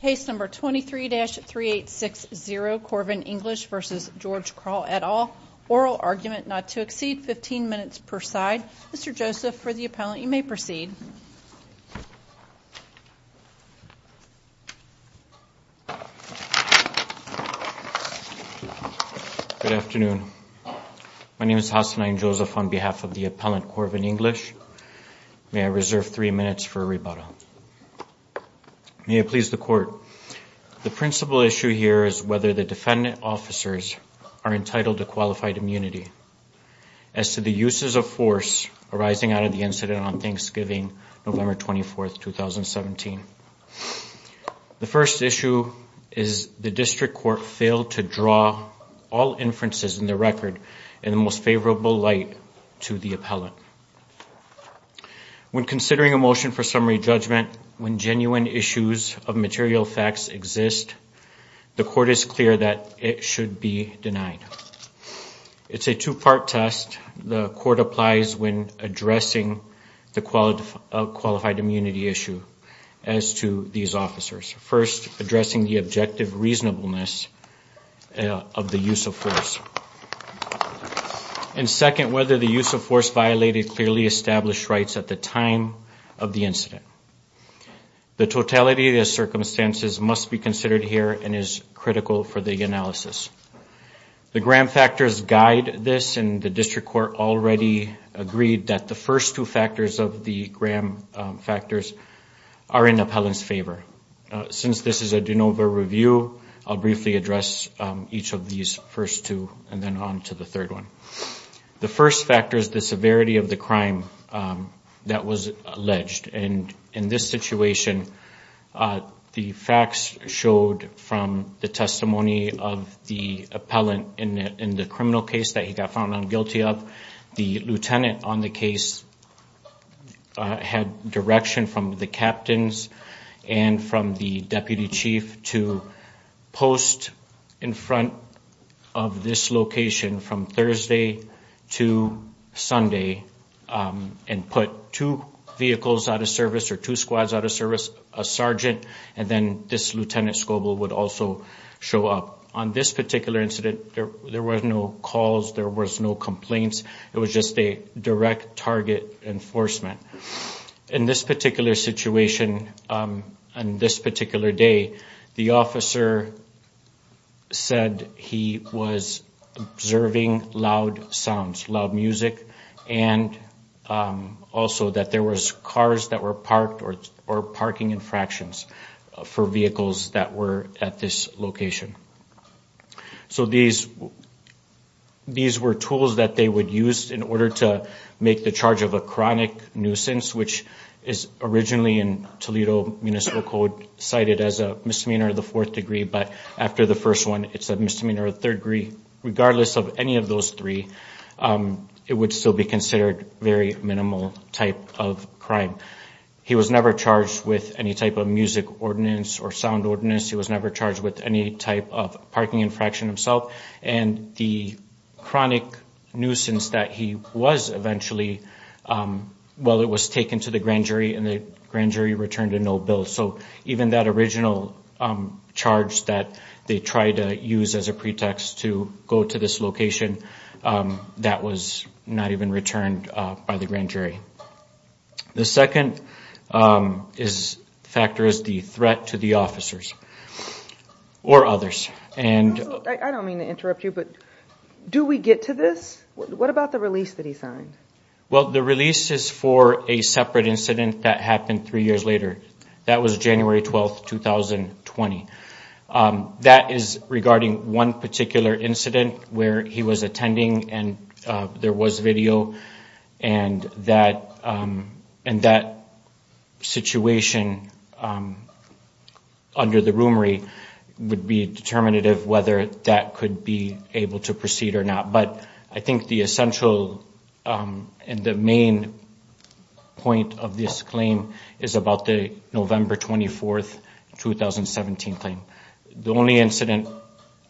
Case number 23-3860 Corvin English v. George Kral et al. Oral argument not to exceed 15 minutes per side. Mr. Joseph, for the appellant, you may proceed. Good afternoon. My name is Hasani Joseph on behalf of the appellant Corvin English. May I reserve three minutes for rebuttal? May it please the court. The principal issue here is whether the defendant officers are entitled to qualified immunity as to the uses of force arising out of the incident on Thanksgiving, November 24, 2017. The first issue is the district court failed to draw all inferences in the record in the most favorable light to the appellant. When considering a motion for summary judgment when genuine issues of material facts exist, the court is clear that it should be denied. It's a two-part test. The court applies when addressing the qualified immunity issue as to these officers, first, addressing the objective reasonableness of the use of force, and second, whether the use of force violated clearly established rights at the time of the incident. The totality of the circumstances must be considered here and is critical for the analysis. The gram factors guide this, and the district court already agreed that the first two factors of the gram factors are in the appellant's favor. Since this is a de novo review, I'll briefly address each of these first two and then on to the third one. The first factor is the severity of the crime that was alleged. And in this situation, the facts showed from the testimony of the appellant in the criminal case that he got found guilty of, the lieutenant on the case had direction from the captains and from the deputy chief to post in front of this location from Thursday to Sunday and put two vehicles out of service or two squads out of service, a sergeant, and then this lieutenant Scoble would also show up. On this particular incident, there was no calls, there was no complaints, it was just a direct target enforcement. In this particular situation, on this particular day, the officer said he was observing loud sounds, loud music, and also that there was cars that were parked or parking infractions for vehicles that were at this location. So these were tools that they would use in order to make the charge of a chronic nuisance, which is originally in Toledo Municipal Code cited as a misdemeanor of the fourth degree, but after the first one, it's a misdemeanor of the third degree. Regardless of any of those three, it would still be considered a very minimal type of crime. He was never charged with any type of music ordinance or sound ordinance. He was never charged with any type of parking infraction himself, and the chronic nuisance that he was eventually, well, it was taken to the grand jury and the grand jury returned a no bill. So even that original charge that they tried to use as a pretext to go to this location, that was not even returned by the grand jury. The second factor is the threat to the officers or others. I don't mean to interrupt you, but do we get to this? What about the release that he signed? Well, the release is for a separate incident that happened three years later. That was January 12, 2020. That is regarding one particular incident where he was attending and there was video, and that situation under the rumory would be determinative whether that could be able to proceed or not. But I think the essential and the main point of this claim is about the November 24, 2017 claim. The only incident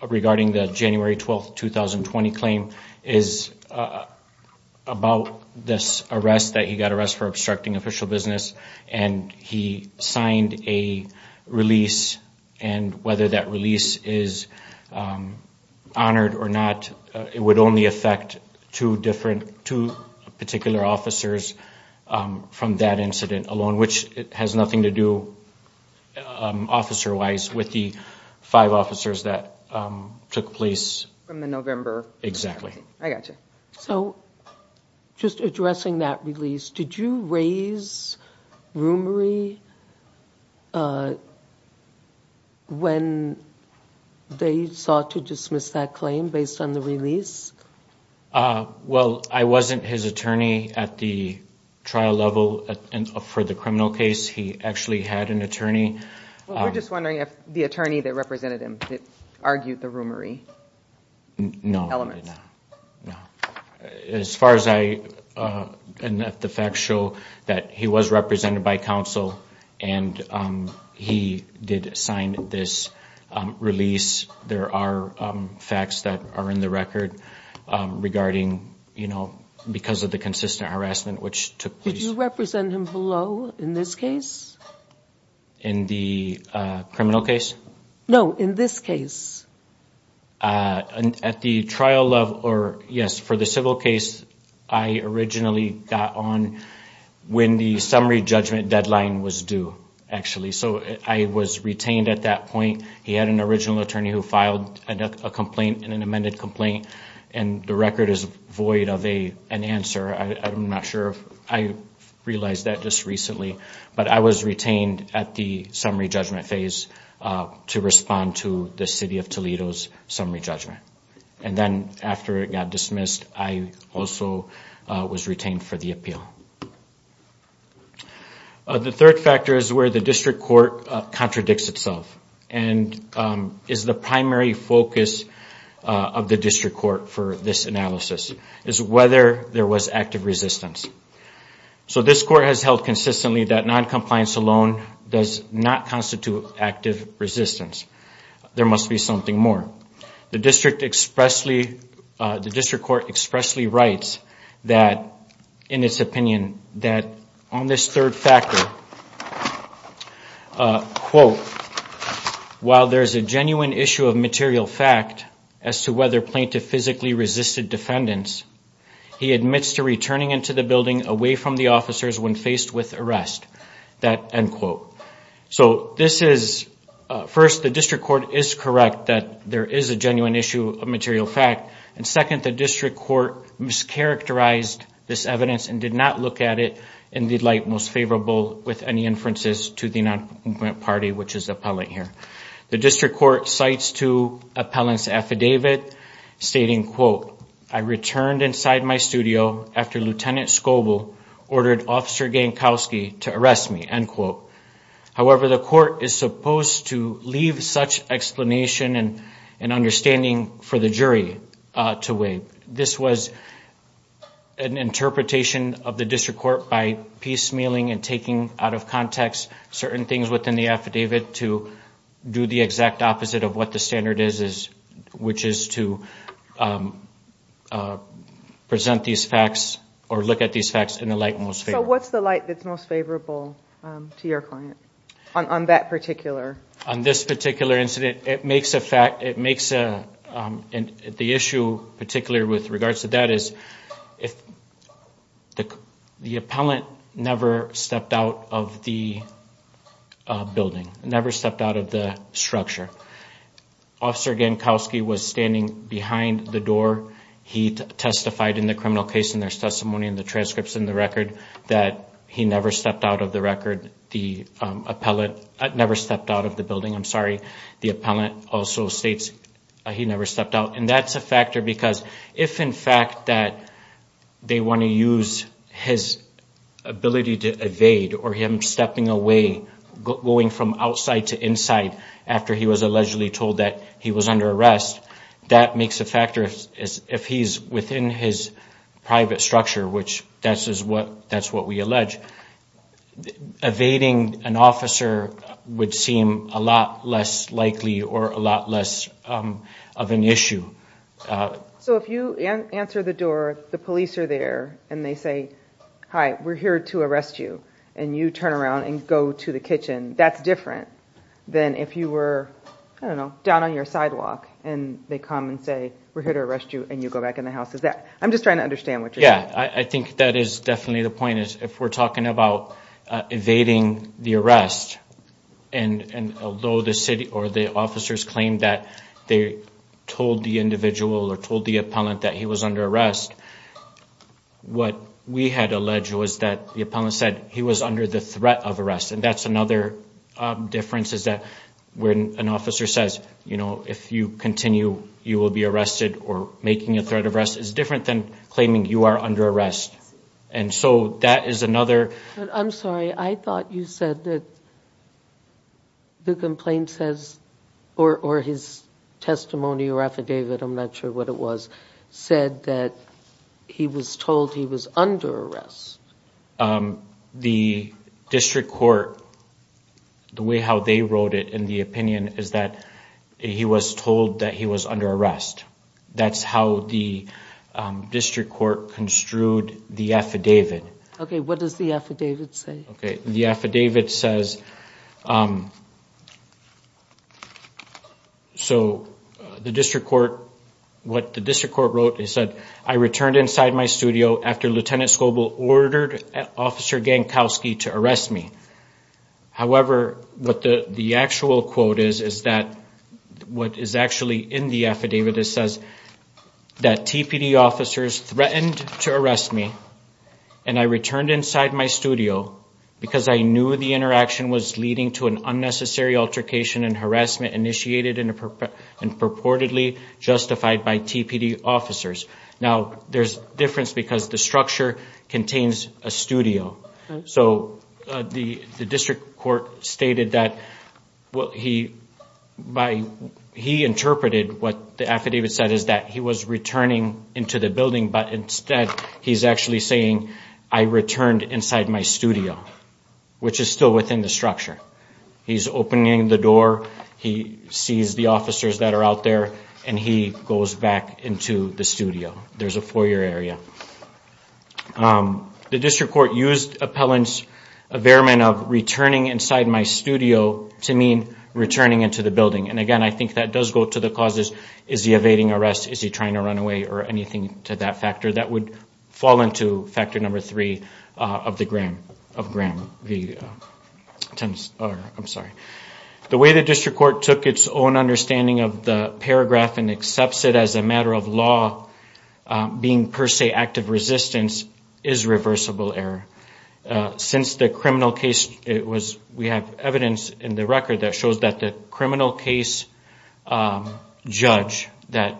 regarding the January 12, 2020 claim is about this arrest, that he got arrested for obstructing official business, and he signed a release, and whether that release is honored or not, it would only affect two different, two particular officers from that incident alone, which has nothing to do officer-wise with the five officers that took place. From the November? Exactly. I got you. So just addressing that release, did you raise rumory when they sought to dismiss that claim based on the release? Well, I wasn't his attorney at the trial level for the criminal case. He actually had an attorney. We're just wondering if the attorney that represented him argued the rumory elements. As far as I know, the facts show that he was represented by counsel, and he did sign this release. There are facts that are in the record regarding, you know, because of the consistent harassment which took place. Did you represent him below in this case? In the criminal case? No, in this case. At the trial level, or yes, for the civil case, I originally got on when the summary judgment deadline was due, actually. So I was retained at that point. He had an original attorney who filed a complaint, an amended complaint, and the record is void of an answer. I'm not sure if I realized that just recently, but I was retained at the summary judgment phase to respond to the City of Toledo's summary judgment. And then after it got dismissed, I also was retained for the appeal. The third factor is where the district court contradicts itself and is the primary focus of the district court for this analysis, is whether there was active resistance. So this court has held consistently that noncompliance alone does not constitute active resistance. There must be something more. The district court expressly writes that, in its opinion, that on this third factor, while there is a genuine issue of material fact as to whether plaintiff physically resisted defendants, he admits to returning into the building away from the officers when faced with arrest. That end quote. So this is, first, the district court is correct that there is a genuine issue of material fact, and second, the district court mischaracterized this evidence and did not look at it in the light most favorable with any inferences to the noncompliant party, which is the appellant here. The district court cites two appellants' affidavit stating, quote, I returned inside my studio after Lieutenant Scoble ordered Officer Gankowski to arrest me, end quote. However, the court is supposed to leave such explanation and understanding for the jury to wait. This was an interpretation of the district court by piecemealing and taking out of context certain things within the affidavit to do the exact opposite of what the standard is, which is to present these facts or look at these facts in the light most favorable. So what's the light that's most favorable to your client on that particular? On this particular incident, it makes a fact, it makes a, and the issue particularly with regards to that is if the appellant never stepped out of the building, never stepped out of the structure, Officer Gankowski was standing behind the door. He testified in the criminal case in their testimony and the transcripts in the record that he never stepped out of the record. The appellant never stepped out of the building. I'm sorry. The appellant also states he never stepped out. And that's a factor because if in fact that they want to use his ability to evade or him stepping away, going from outside to inside after he was allegedly told that he was under arrest, that makes a factor if he's within his private structure, which that's what we allege. Evading an officer would seem a lot less likely or a lot less of an issue. So if you answer the door, the police are there, and they say, hi, we're here to arrest you, and you turn around and go to the kitchen, that's different than if you were down on your sidewalk and they come and say, we're here to arrest you, and you go back in the house. I'm just trying to understand what you're saying. Yeah, I think that is definitely the point. If we're talking about evading the arrest, and although the city or the officers claim that they told the individual or told the appellant that he was under arrest, what we had alleged was that the appellant said he was under the threat of arrest, and that's another difference is that when an officer says, you know, if you continue, you will be arrested, or making a threat of arrest is different than claiming you are under arrest. And so that is another. I'm sorry. I thought you said that the complaint says, or his testimony or affidavit, I'm not sure what it was, said that he was told he was under arrest. The district court, the way how they wrote it in the opinion is that he was told that he was under arrest. That's how the district court construed the affidavit. Okay, what does the affidavit say? Okay, the affidavit says, so the district court, what the district court wrote, it said, I returned inside my studio after Lieutenant Scoble ordered Officer Gankowski to arrest me. However, what the actual quote is, is that what is actually in the affidavit, that TPD officers threatened to arrest me, and I returned inside my studio, because I knew the interaction was leading to an unnecessary altercation and harassment initiated and purportedly justified by TPD officers. Now, there's a difference because the structure contains a studio. So the district court stated that he interpreted what the affidavit said, is that he was returning into the building, but instead he's actually saying, I returned inside my studio, which is still within the structure. He's opening the door, he sees the officers that are out there, and he goes back into the studio. There's a foyer area. The district court used Appellant's affidavit of returning inside my studio to mean returning into the building. And again, I think that does go to the causes, is he evading arrest, is he trying to run away, or anything to that factor. That would fall into factor number three of the Graham v. Tims. I'm sorry. The way the district court took its own understanding of the paragraph and accepts it as a matter of law being per se active resistance is reversible error. Since the criminal case, we have evidence in the record that shows that the criminal case judge, that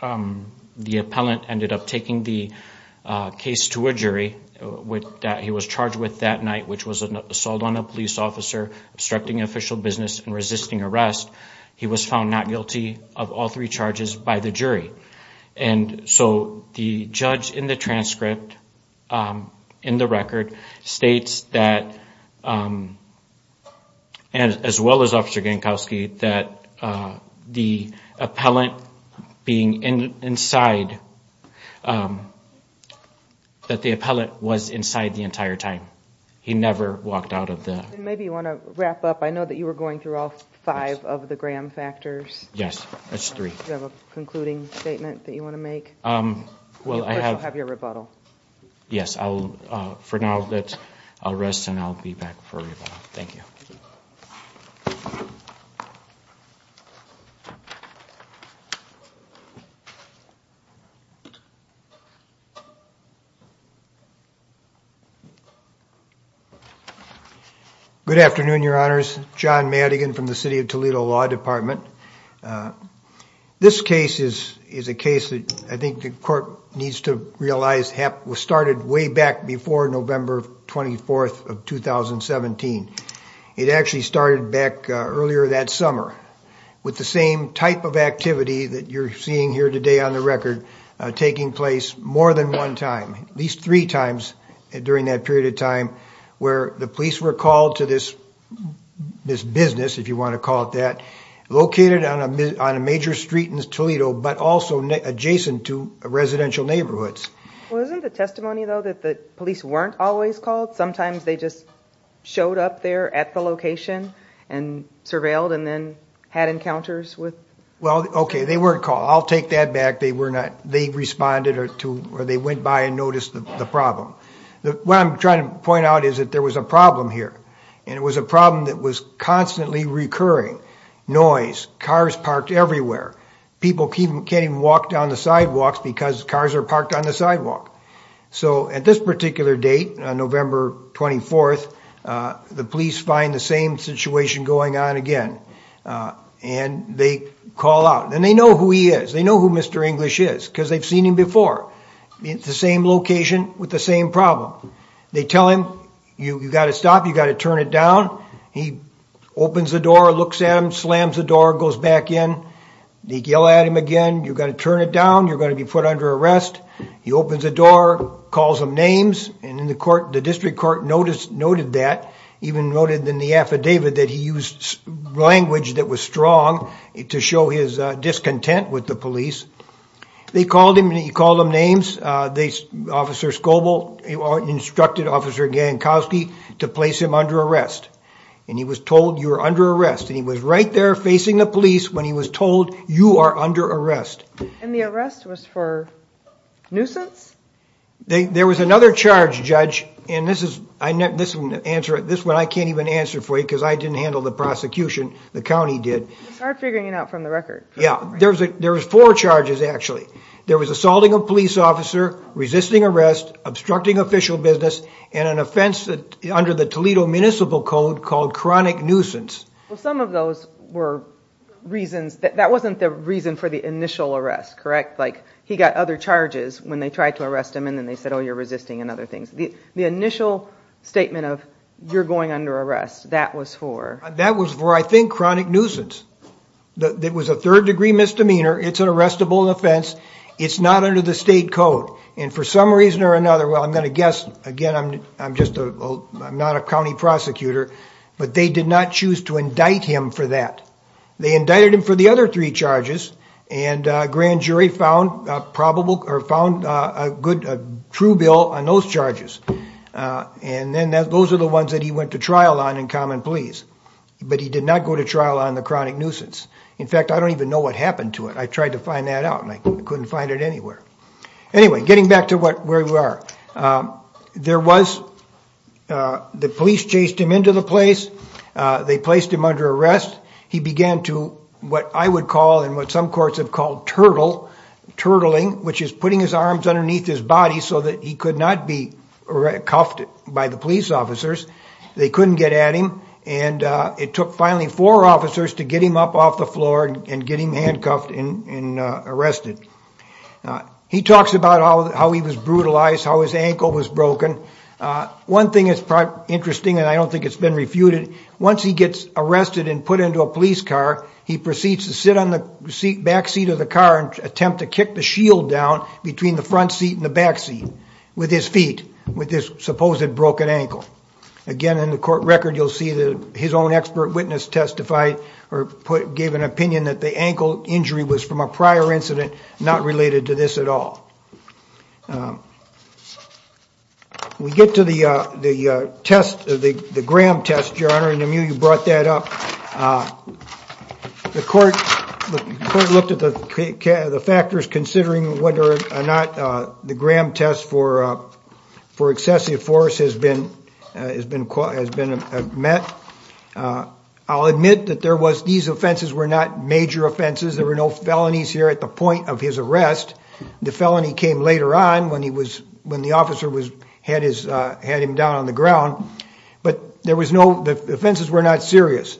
the appellant ended up taking the case to a jury that he was charged with that night, which was an assault on a police officer, obstructing official business, and resisting arrest. He was found not guilty of all three charges by the jury. And so the judge in the transcript, in the record, states that, as well as Officer Gankowski, that the appellant being inside, that the appellant was inside the entire time. He never walked out of the... Maybe you want to wrap up. I know that you were going through all five of the Graham factors. Yes. That's three. Do you have a concluding statement that you want to make? Well, I have... Of course, you'll have your rebuttal. Yes. For now, I'll rest and I'll be back for rebuttal. Thank you. Good afternoon, your honors. John Madigan from the City of Toledo Law Department. This case is a case that I think the court needs to realize started way back before November 24th of 2017. It actually started back earlier that summer with the same type of activity that you're seeing here today on the record taking place more than one time, at least three times during that period of time, where the police were called to this business, if you want to call it that, located on a major street in Toledo, but also adjacent to residential neighborhoods. Wasn't the testimony, though, that the police weren't always called? Sometimes they just showed up there at the location and surveilled and then had encounters with... Well, okay. They weren't called. I'll take that back. They responded or they went by and noticed the problem. What I'm trying to point out is that there was a problem here, and it was a problem that was constantly recurring, noise, cars parked everywhere. People can't even walk down the sidewalks because cars are parked on the sidewalk. So at this particular date, November 24th, the police find the same situation going on again, and they call out. And they know who he is. They know who Mr. English is because they've seen him before. It's the same location with the same problem. They tell him, you've got to stop. You've got to turn it down. He opens the door, looks at him, slams the door, goes back in. They yell at him again. You've got to turn it down. You're going to be put under arrest. He opens the door, calls them names, and the district court noted that, even noted in the affidavit that he used language that was strong to show his discontent with the police. They called him, and he called them names. Officer Scoble instructed Officer Gankowski to place him under arrest. And he was told, you are under arrest. And he was right there facing the police when he was told, you are under arrest. And the arrest was for nuisance? There was another charge, Judge, and this one I can't even answer for you because I didn't handle the prosecution. The county did. It's hard figuring it out from the record. Yeah. There was four charges, actually. There was assaulting a police officer, resisting arrest, obstructing official business, and an offense under the Toledo Municipal Code called chronic nuisance. Well, some of those were reasons. That wasn't the reason for the initial arrest, correct? Like, he got other charges when they tried to arrest him, and then they said, oh, you're resisting and other things. The initial statement of you're going under arrest, that was for? That was for, I think, chronic nuisance. It was a third-degree misdemeanor. It's an arrestable offense. It's not under the state code. And for some reason or another, well, I'm going to guess, again, I'm not a county prosecutor, but they did not choose to indict him for that. They indicted him for the other three charges, and a grand jury found a good true bill on those charges. And then those are the ones that he went to trial on in common pleas. But he did not go to trial on the chronic nuisance. In fact, I don't even know what happened to it. I tried to find that out, and I couldn't find it anywhere. Anyway, getting back to where we are. There was the police chased him into the place. They placed him under arrest. He began to what I would call and what some courts have called turtle, turtling, which is putting his arms underneath his body so that he could not be cuffed by the police officers. They couldn't get at him, and it took finally four officers to get him up off the floor and get him handcuffed and arrested. He talks about how he was brutalized, how his ankle was broken. One thing that's interesting, and I don't think it's been refuted, once he gets arrested and put into a police car, he proceeds to sit on the back seat of the car and attempt to kick the shield down between the front seat and the back seat with his feet, with his supposed broken ankle. Again, in the court record, you'll see that his own expert witness testified or gave an opinion that the ankle injury was from a prior incident not related to this at all. We get to the gram test, Your Honor, and I knew you brought that up. The court looked at the factors considering whether or not the gram test for excessive force has been met. I'll admit that these offenses were not major offenses. There were no felonies here at the point of his arrest. The felony came later on when the officer had him down on the ground, but the offenses were not serious.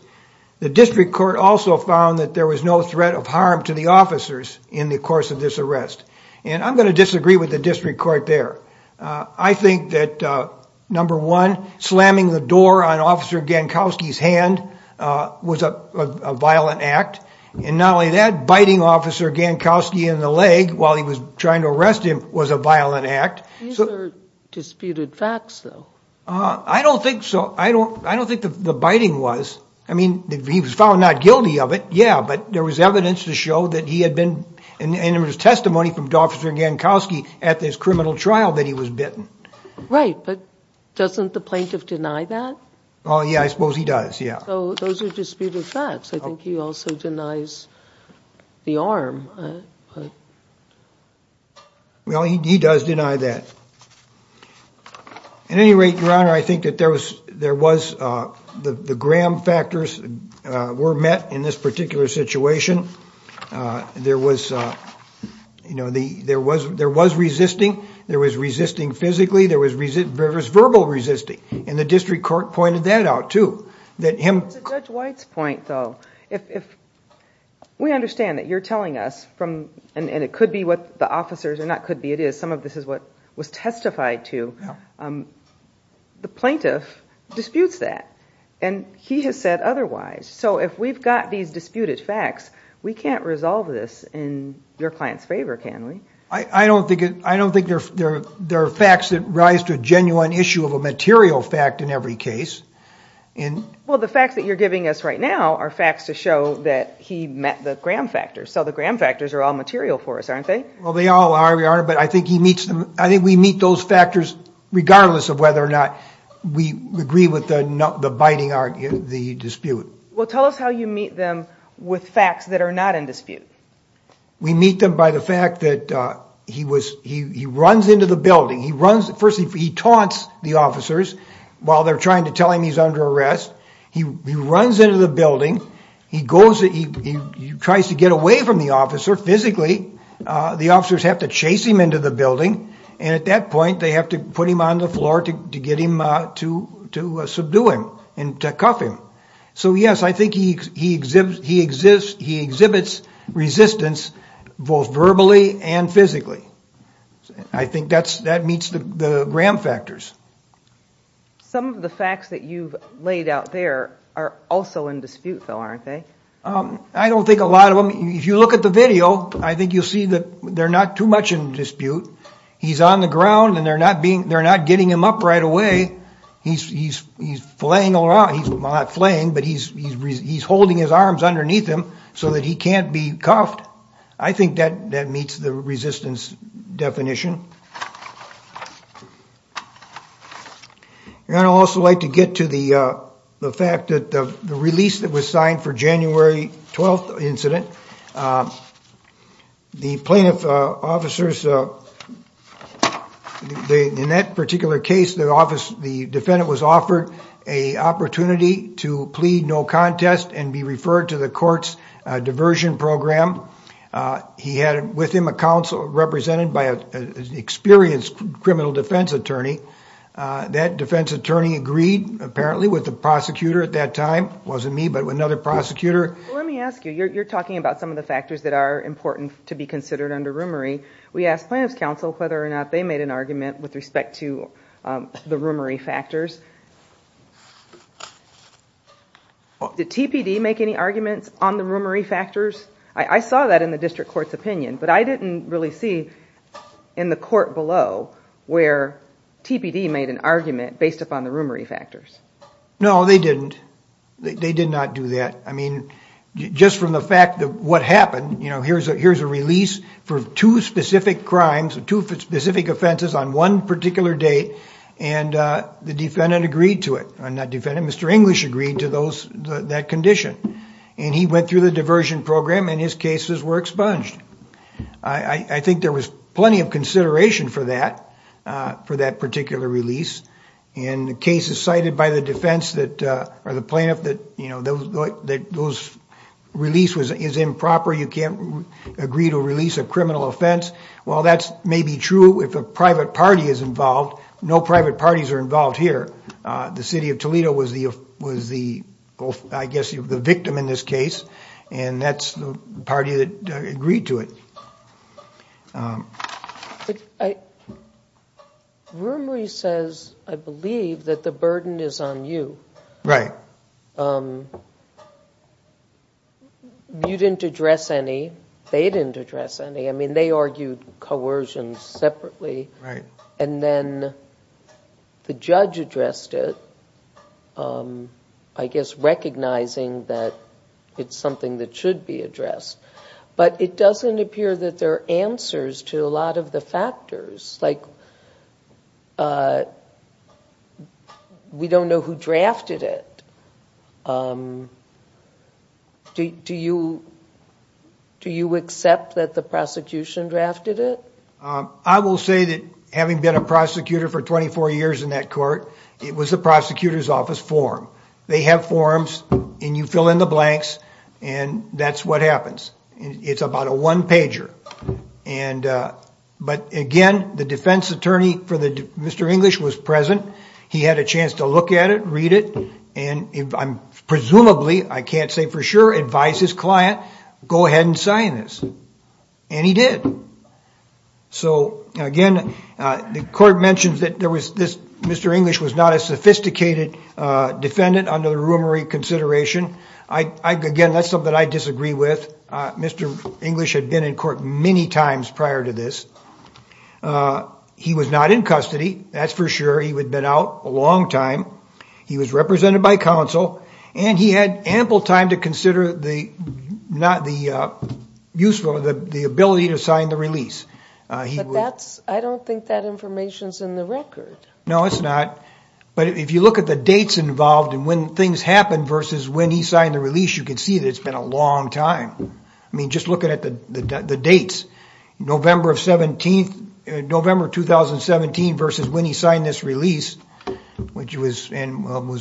The district court also found that there was no threat of harm to the officers in the course of this arrest. I'm going to disagree with the district court there. I think that, number one, slamming the door on Officer Gankowski's hand was a violent act, and not only that, biting Officer Gankowski in the leg while he was trying to arrest him was a violent act. These are disputed facts, though. I don't think so. I don't think the biting was. I mean, he was found not guilty of it, yeah, but there was evidence to show that he had been, and there was testimony from Officer Gankowski at this criminal trial that he was bitten. Right, but doesn't the plaintiff deny that? Yeah, I suppose he does, yeah. Those are disputed facts. I think he also denies the arm. Well, he does deny that. At any rate, Your Honor, I think that there was the Graham factors were met in this particular situation. There was resisting. There was resisting physically. There was verbal resisting, and the district court pointed that out, too. To Judge White's point, though, we understand that you're telling us, and it could be what the officers, or not could be, it is, some of this is what was testified to. The plaintiff disputes that, and he has said otherwise. So if we've got these disputed facts, we can't resolve this in your client's favor, can we? I don't think there are facts that rise to a genuine issue of a material fact in every case. Well, the facts that you're giving us right now are facts to show that he met the Graham factors. So the Graham factors are all material for us, aren't they? Well, they all are, Your Honor, but I think we meet those factors regardless of whether or not we agree with the biting argument, the dispute. Well, tell us how you meet them with facts that are not in dispute. We meet them by the fact that he runs into the building. First, he taunts the officers while they're trying to tell him he's under arrest. He runs into the building. He tries to get away from the officer physically. The officers have to chase him into the building, and at that point, they have to put him on the floor to subdue him and cuff him. So, yes, I think he exhibits resistance both verbally and physically. I think that meets the Graham factors. Some of the facts that you've laid out there are also in dispute, though, aren't they? I don't think a lot of them. If you look at the video, I think you'll see that they're not too much in dispute. He's on the ground, and they're not getting him up right away. He's flaying around. He's not flaying, but he's holding his arms underneath him so that he can't be cuffed. I think that meets the resistance definition. I'd also like to get to the fact that the release that was signed for January 12th incident, the plaintiff officers, in that particular case, the defendant was offered an opportunity to plead no contest and be referred to the court's diversion program. He had with him a counsel represented by an experienced criminal defense attorney. That defense attorney agreed, apparently, with the prosecutor at that time. It wasn't me, but another prosecutor. Let me ask you. You're talking about some of the factors that are important to be considered under rumory. We asked plaintiff's counsel whether or not they made an argument with respect to the rumory factors. Did TPD make any arguments on the rumory factors? I saw that in the district court's opinion, but I didn't really see in the court below where TPD made an argument based upon the rumory factors. No, they didn't. They did not do that. Just from the fact that what happened, here's a release for two specific crimes, two specific offenses on one particular date, and the defendant agreed to it. Not defendant, Mr. English agreed to that condition. He went through the diversion program, and his cases were expunged. I think there was plenty of consideration for that, for that particular release. The case is cited by the defense, or the plaintiff, that those release is improper. You can't agree to release a criminal offense. While that may be true if a private party is involved, no private parties are involved here. The city of Toledo was the, I guess, the victim in this case, and that's the party that agreed to it. Rumory says, I believe, that the burden is on you. You didn't address any. They didn't address any. I mean, they argued coercion separately. Right. And then the judge addressed it, I guess, recognizing that it's something that should be addressed. But it doesn't appear that there are answers to a lot of the factors. Like, we don't know who drafted it. Do you accept that the prosecution drafted it? I will say that having been a prosecutor for 24 years in that court, it was the prosecutor's office form. They have forms, and you fill in the blanks, and that's what happens. It's about a one-pager. But again, the defense attorney for Mr. English was present. He had a chance to look at it, read it, and presumably, I can't say for sure, advised his client, go ahead and sign this. And he did. So again, the court mentions that Mr. English was not a sophisticated defendant under the rumory consideration. Again, that's something I disagree with. Mr. English had been in court many times prior to this. He was not in custody, that's for sure. He had been out a long time. He was represented by counsel. And he had ample time to consider the ability to sign the release. But I don't think that information's in the record. No, it's not. But if you look at the dates involved and when things happened versus when he signed the release, you can see that it's been a long time. I mean, just looking at the dates, November 2017 versus when he signed this release, which was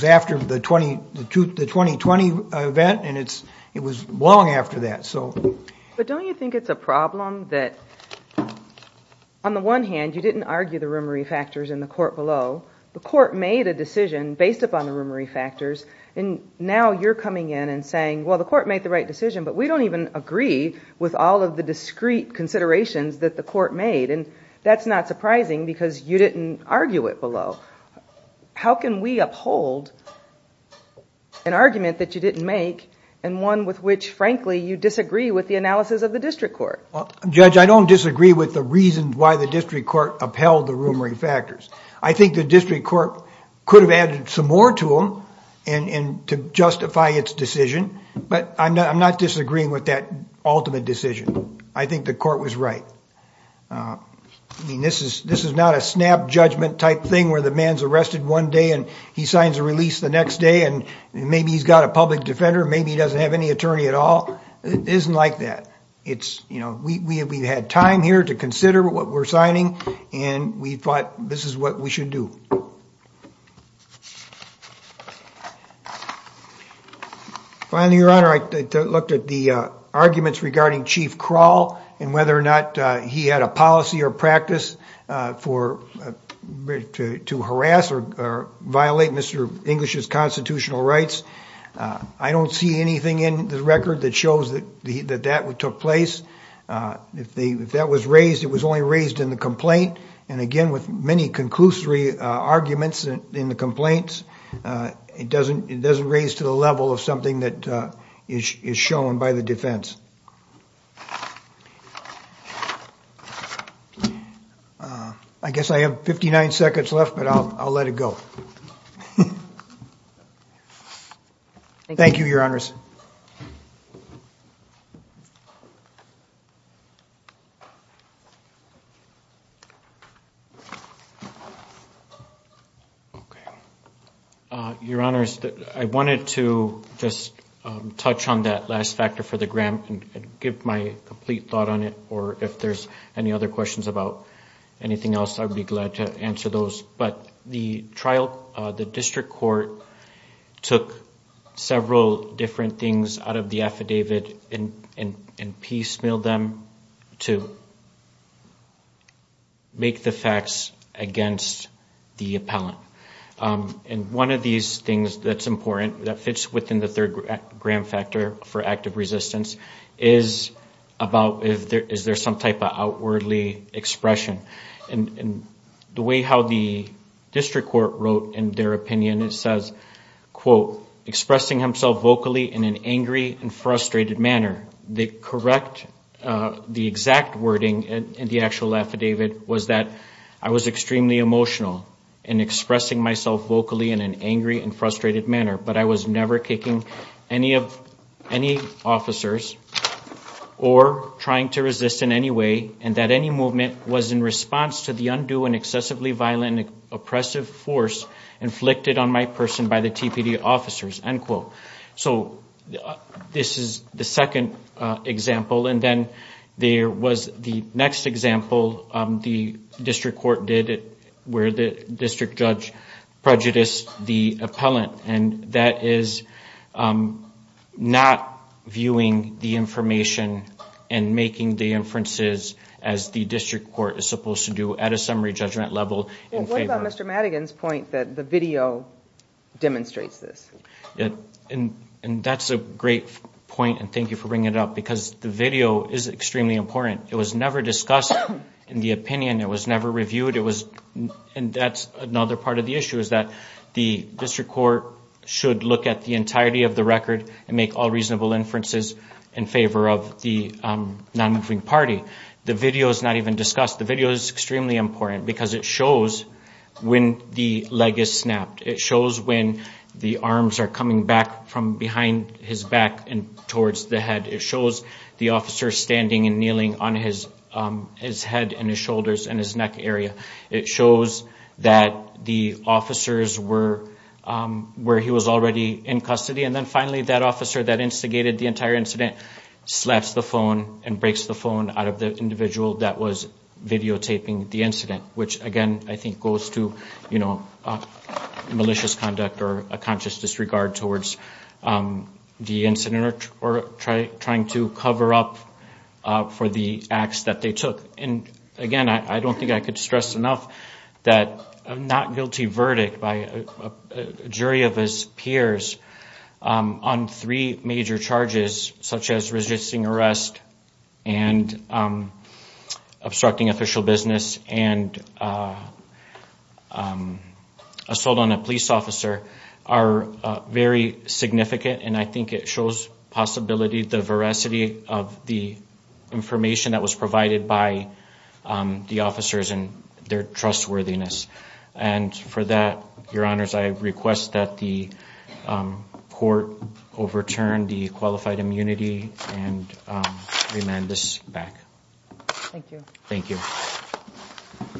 after the 2020 event, and it was long after that. But don't you think it's a problem that, on the one hand, you didn't argue the rumory factors in the court below. The court made a decision based upon the rumory factors. And now you're coming in and saying, well, the court made the right decision. But we don't even agree with all of the discrete considerations that the court made. And that's not surprising because you didn't argue it below. How can we uphold an argument that you didn't make and one with which, frankly, you disagree with the analysis of the district court? Judge, I don't disagree with the reasons why the district court upheld the rumory factors. I think the district court could have added some more to them to justify its decision. But I'm not disagreeing with that ultimate decision. I think the court was right. I mean, this is not a snap judgment type thing where the man's arrested one day and he signs a release the next day. And maybe he's got a public defender. Maybe he doesn't have any attorney at all. It isn't like that. We've had time here to consider what we're signing. And we thought this is what we should do. Finally, Your Honor, I looked at the arguments regarding Chief Kroll and whether or not he had a policy or practice to harass or violate Mr. English's constitutional rights. I don't see anything in the record that shows that that took place. If that was raised, it was only raised in the complaint. And again, with many conclusory arguments in the complaints, it doesn't raise to the level of something that is shown by the defense. I guess I have 59 seconds left, but I'll let it go. Thank you, Your Honors. Your Honors, I wanted to just touch on that last factor for the grant and give my complete thought on it. Or if there's any other questions about anything else, I'd be glad to answer those. But the district court took several different things out of the affidavit and piecemealed them to make the facts against the appellant. And one of these things that's important that fits within the third-gram factor for active resistance is about is there some type of outwardly expression. And the way how the district court wrote in their opinion, it says, quote, expressing himself vocally in an angry and frustrated manner. The correct, the exact wording in the actual affidavit was that I was extremely emotional in expressing myself vocally in an angry and frustrated manner. But I was never kicking any officers or trying to resist in any way. And that any movement was in response to the undue and excessively violent and oppressive force inflicted on my person by the TPD officers, end quote. So this is the second example. And then there was the next example the district court did where the district judge prejudiced the appellant. And that is not viewing the information and making the inferences as the district court is supposed to do at a summary judgment level. Well, what about Mr. Madigan's point that the video demonstrates this? And that's a great point, and thank you for bringing it up, because the video is extremely important. It was never discussed in the opinion. It was never reviewed. And that's another part of the issue is that the district court should look at the entirety of the record and make all reasonable inferences in favor of the non-moving party. The video is not even discussed. The video is extremely important because it shows when the leg is snapped. It shows when the arms are coming back from behind his back and towards the head. It shows the officer standing and kneeling on his head and his shoulders and his neck area. It shows that the officers were where he was already in custody. And then finally, that officer that instigated the entire incident slaps the phone and breaks the phone out of the individual that was videotaping the incident, which, again, I think goes to malicious conduct or a conscious disregard towards the incident or trying to cover up for the acts that they took. And, again, I don't think I could stress enough that a not guilty verdict by a jury of his peers on three major charges, such as resisting arrest and obstructing official business and assault on a police officer, are very significant. And I think it shows possibility, the veracity of the information that was provided by the officers and their trustworthiness. And for that, your honors, I request that the court overturn the qualified immunity and remand this back. Thank you. Thank you.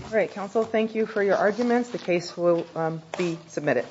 All right, counsel, thank you for your arguments. The case will be submitted.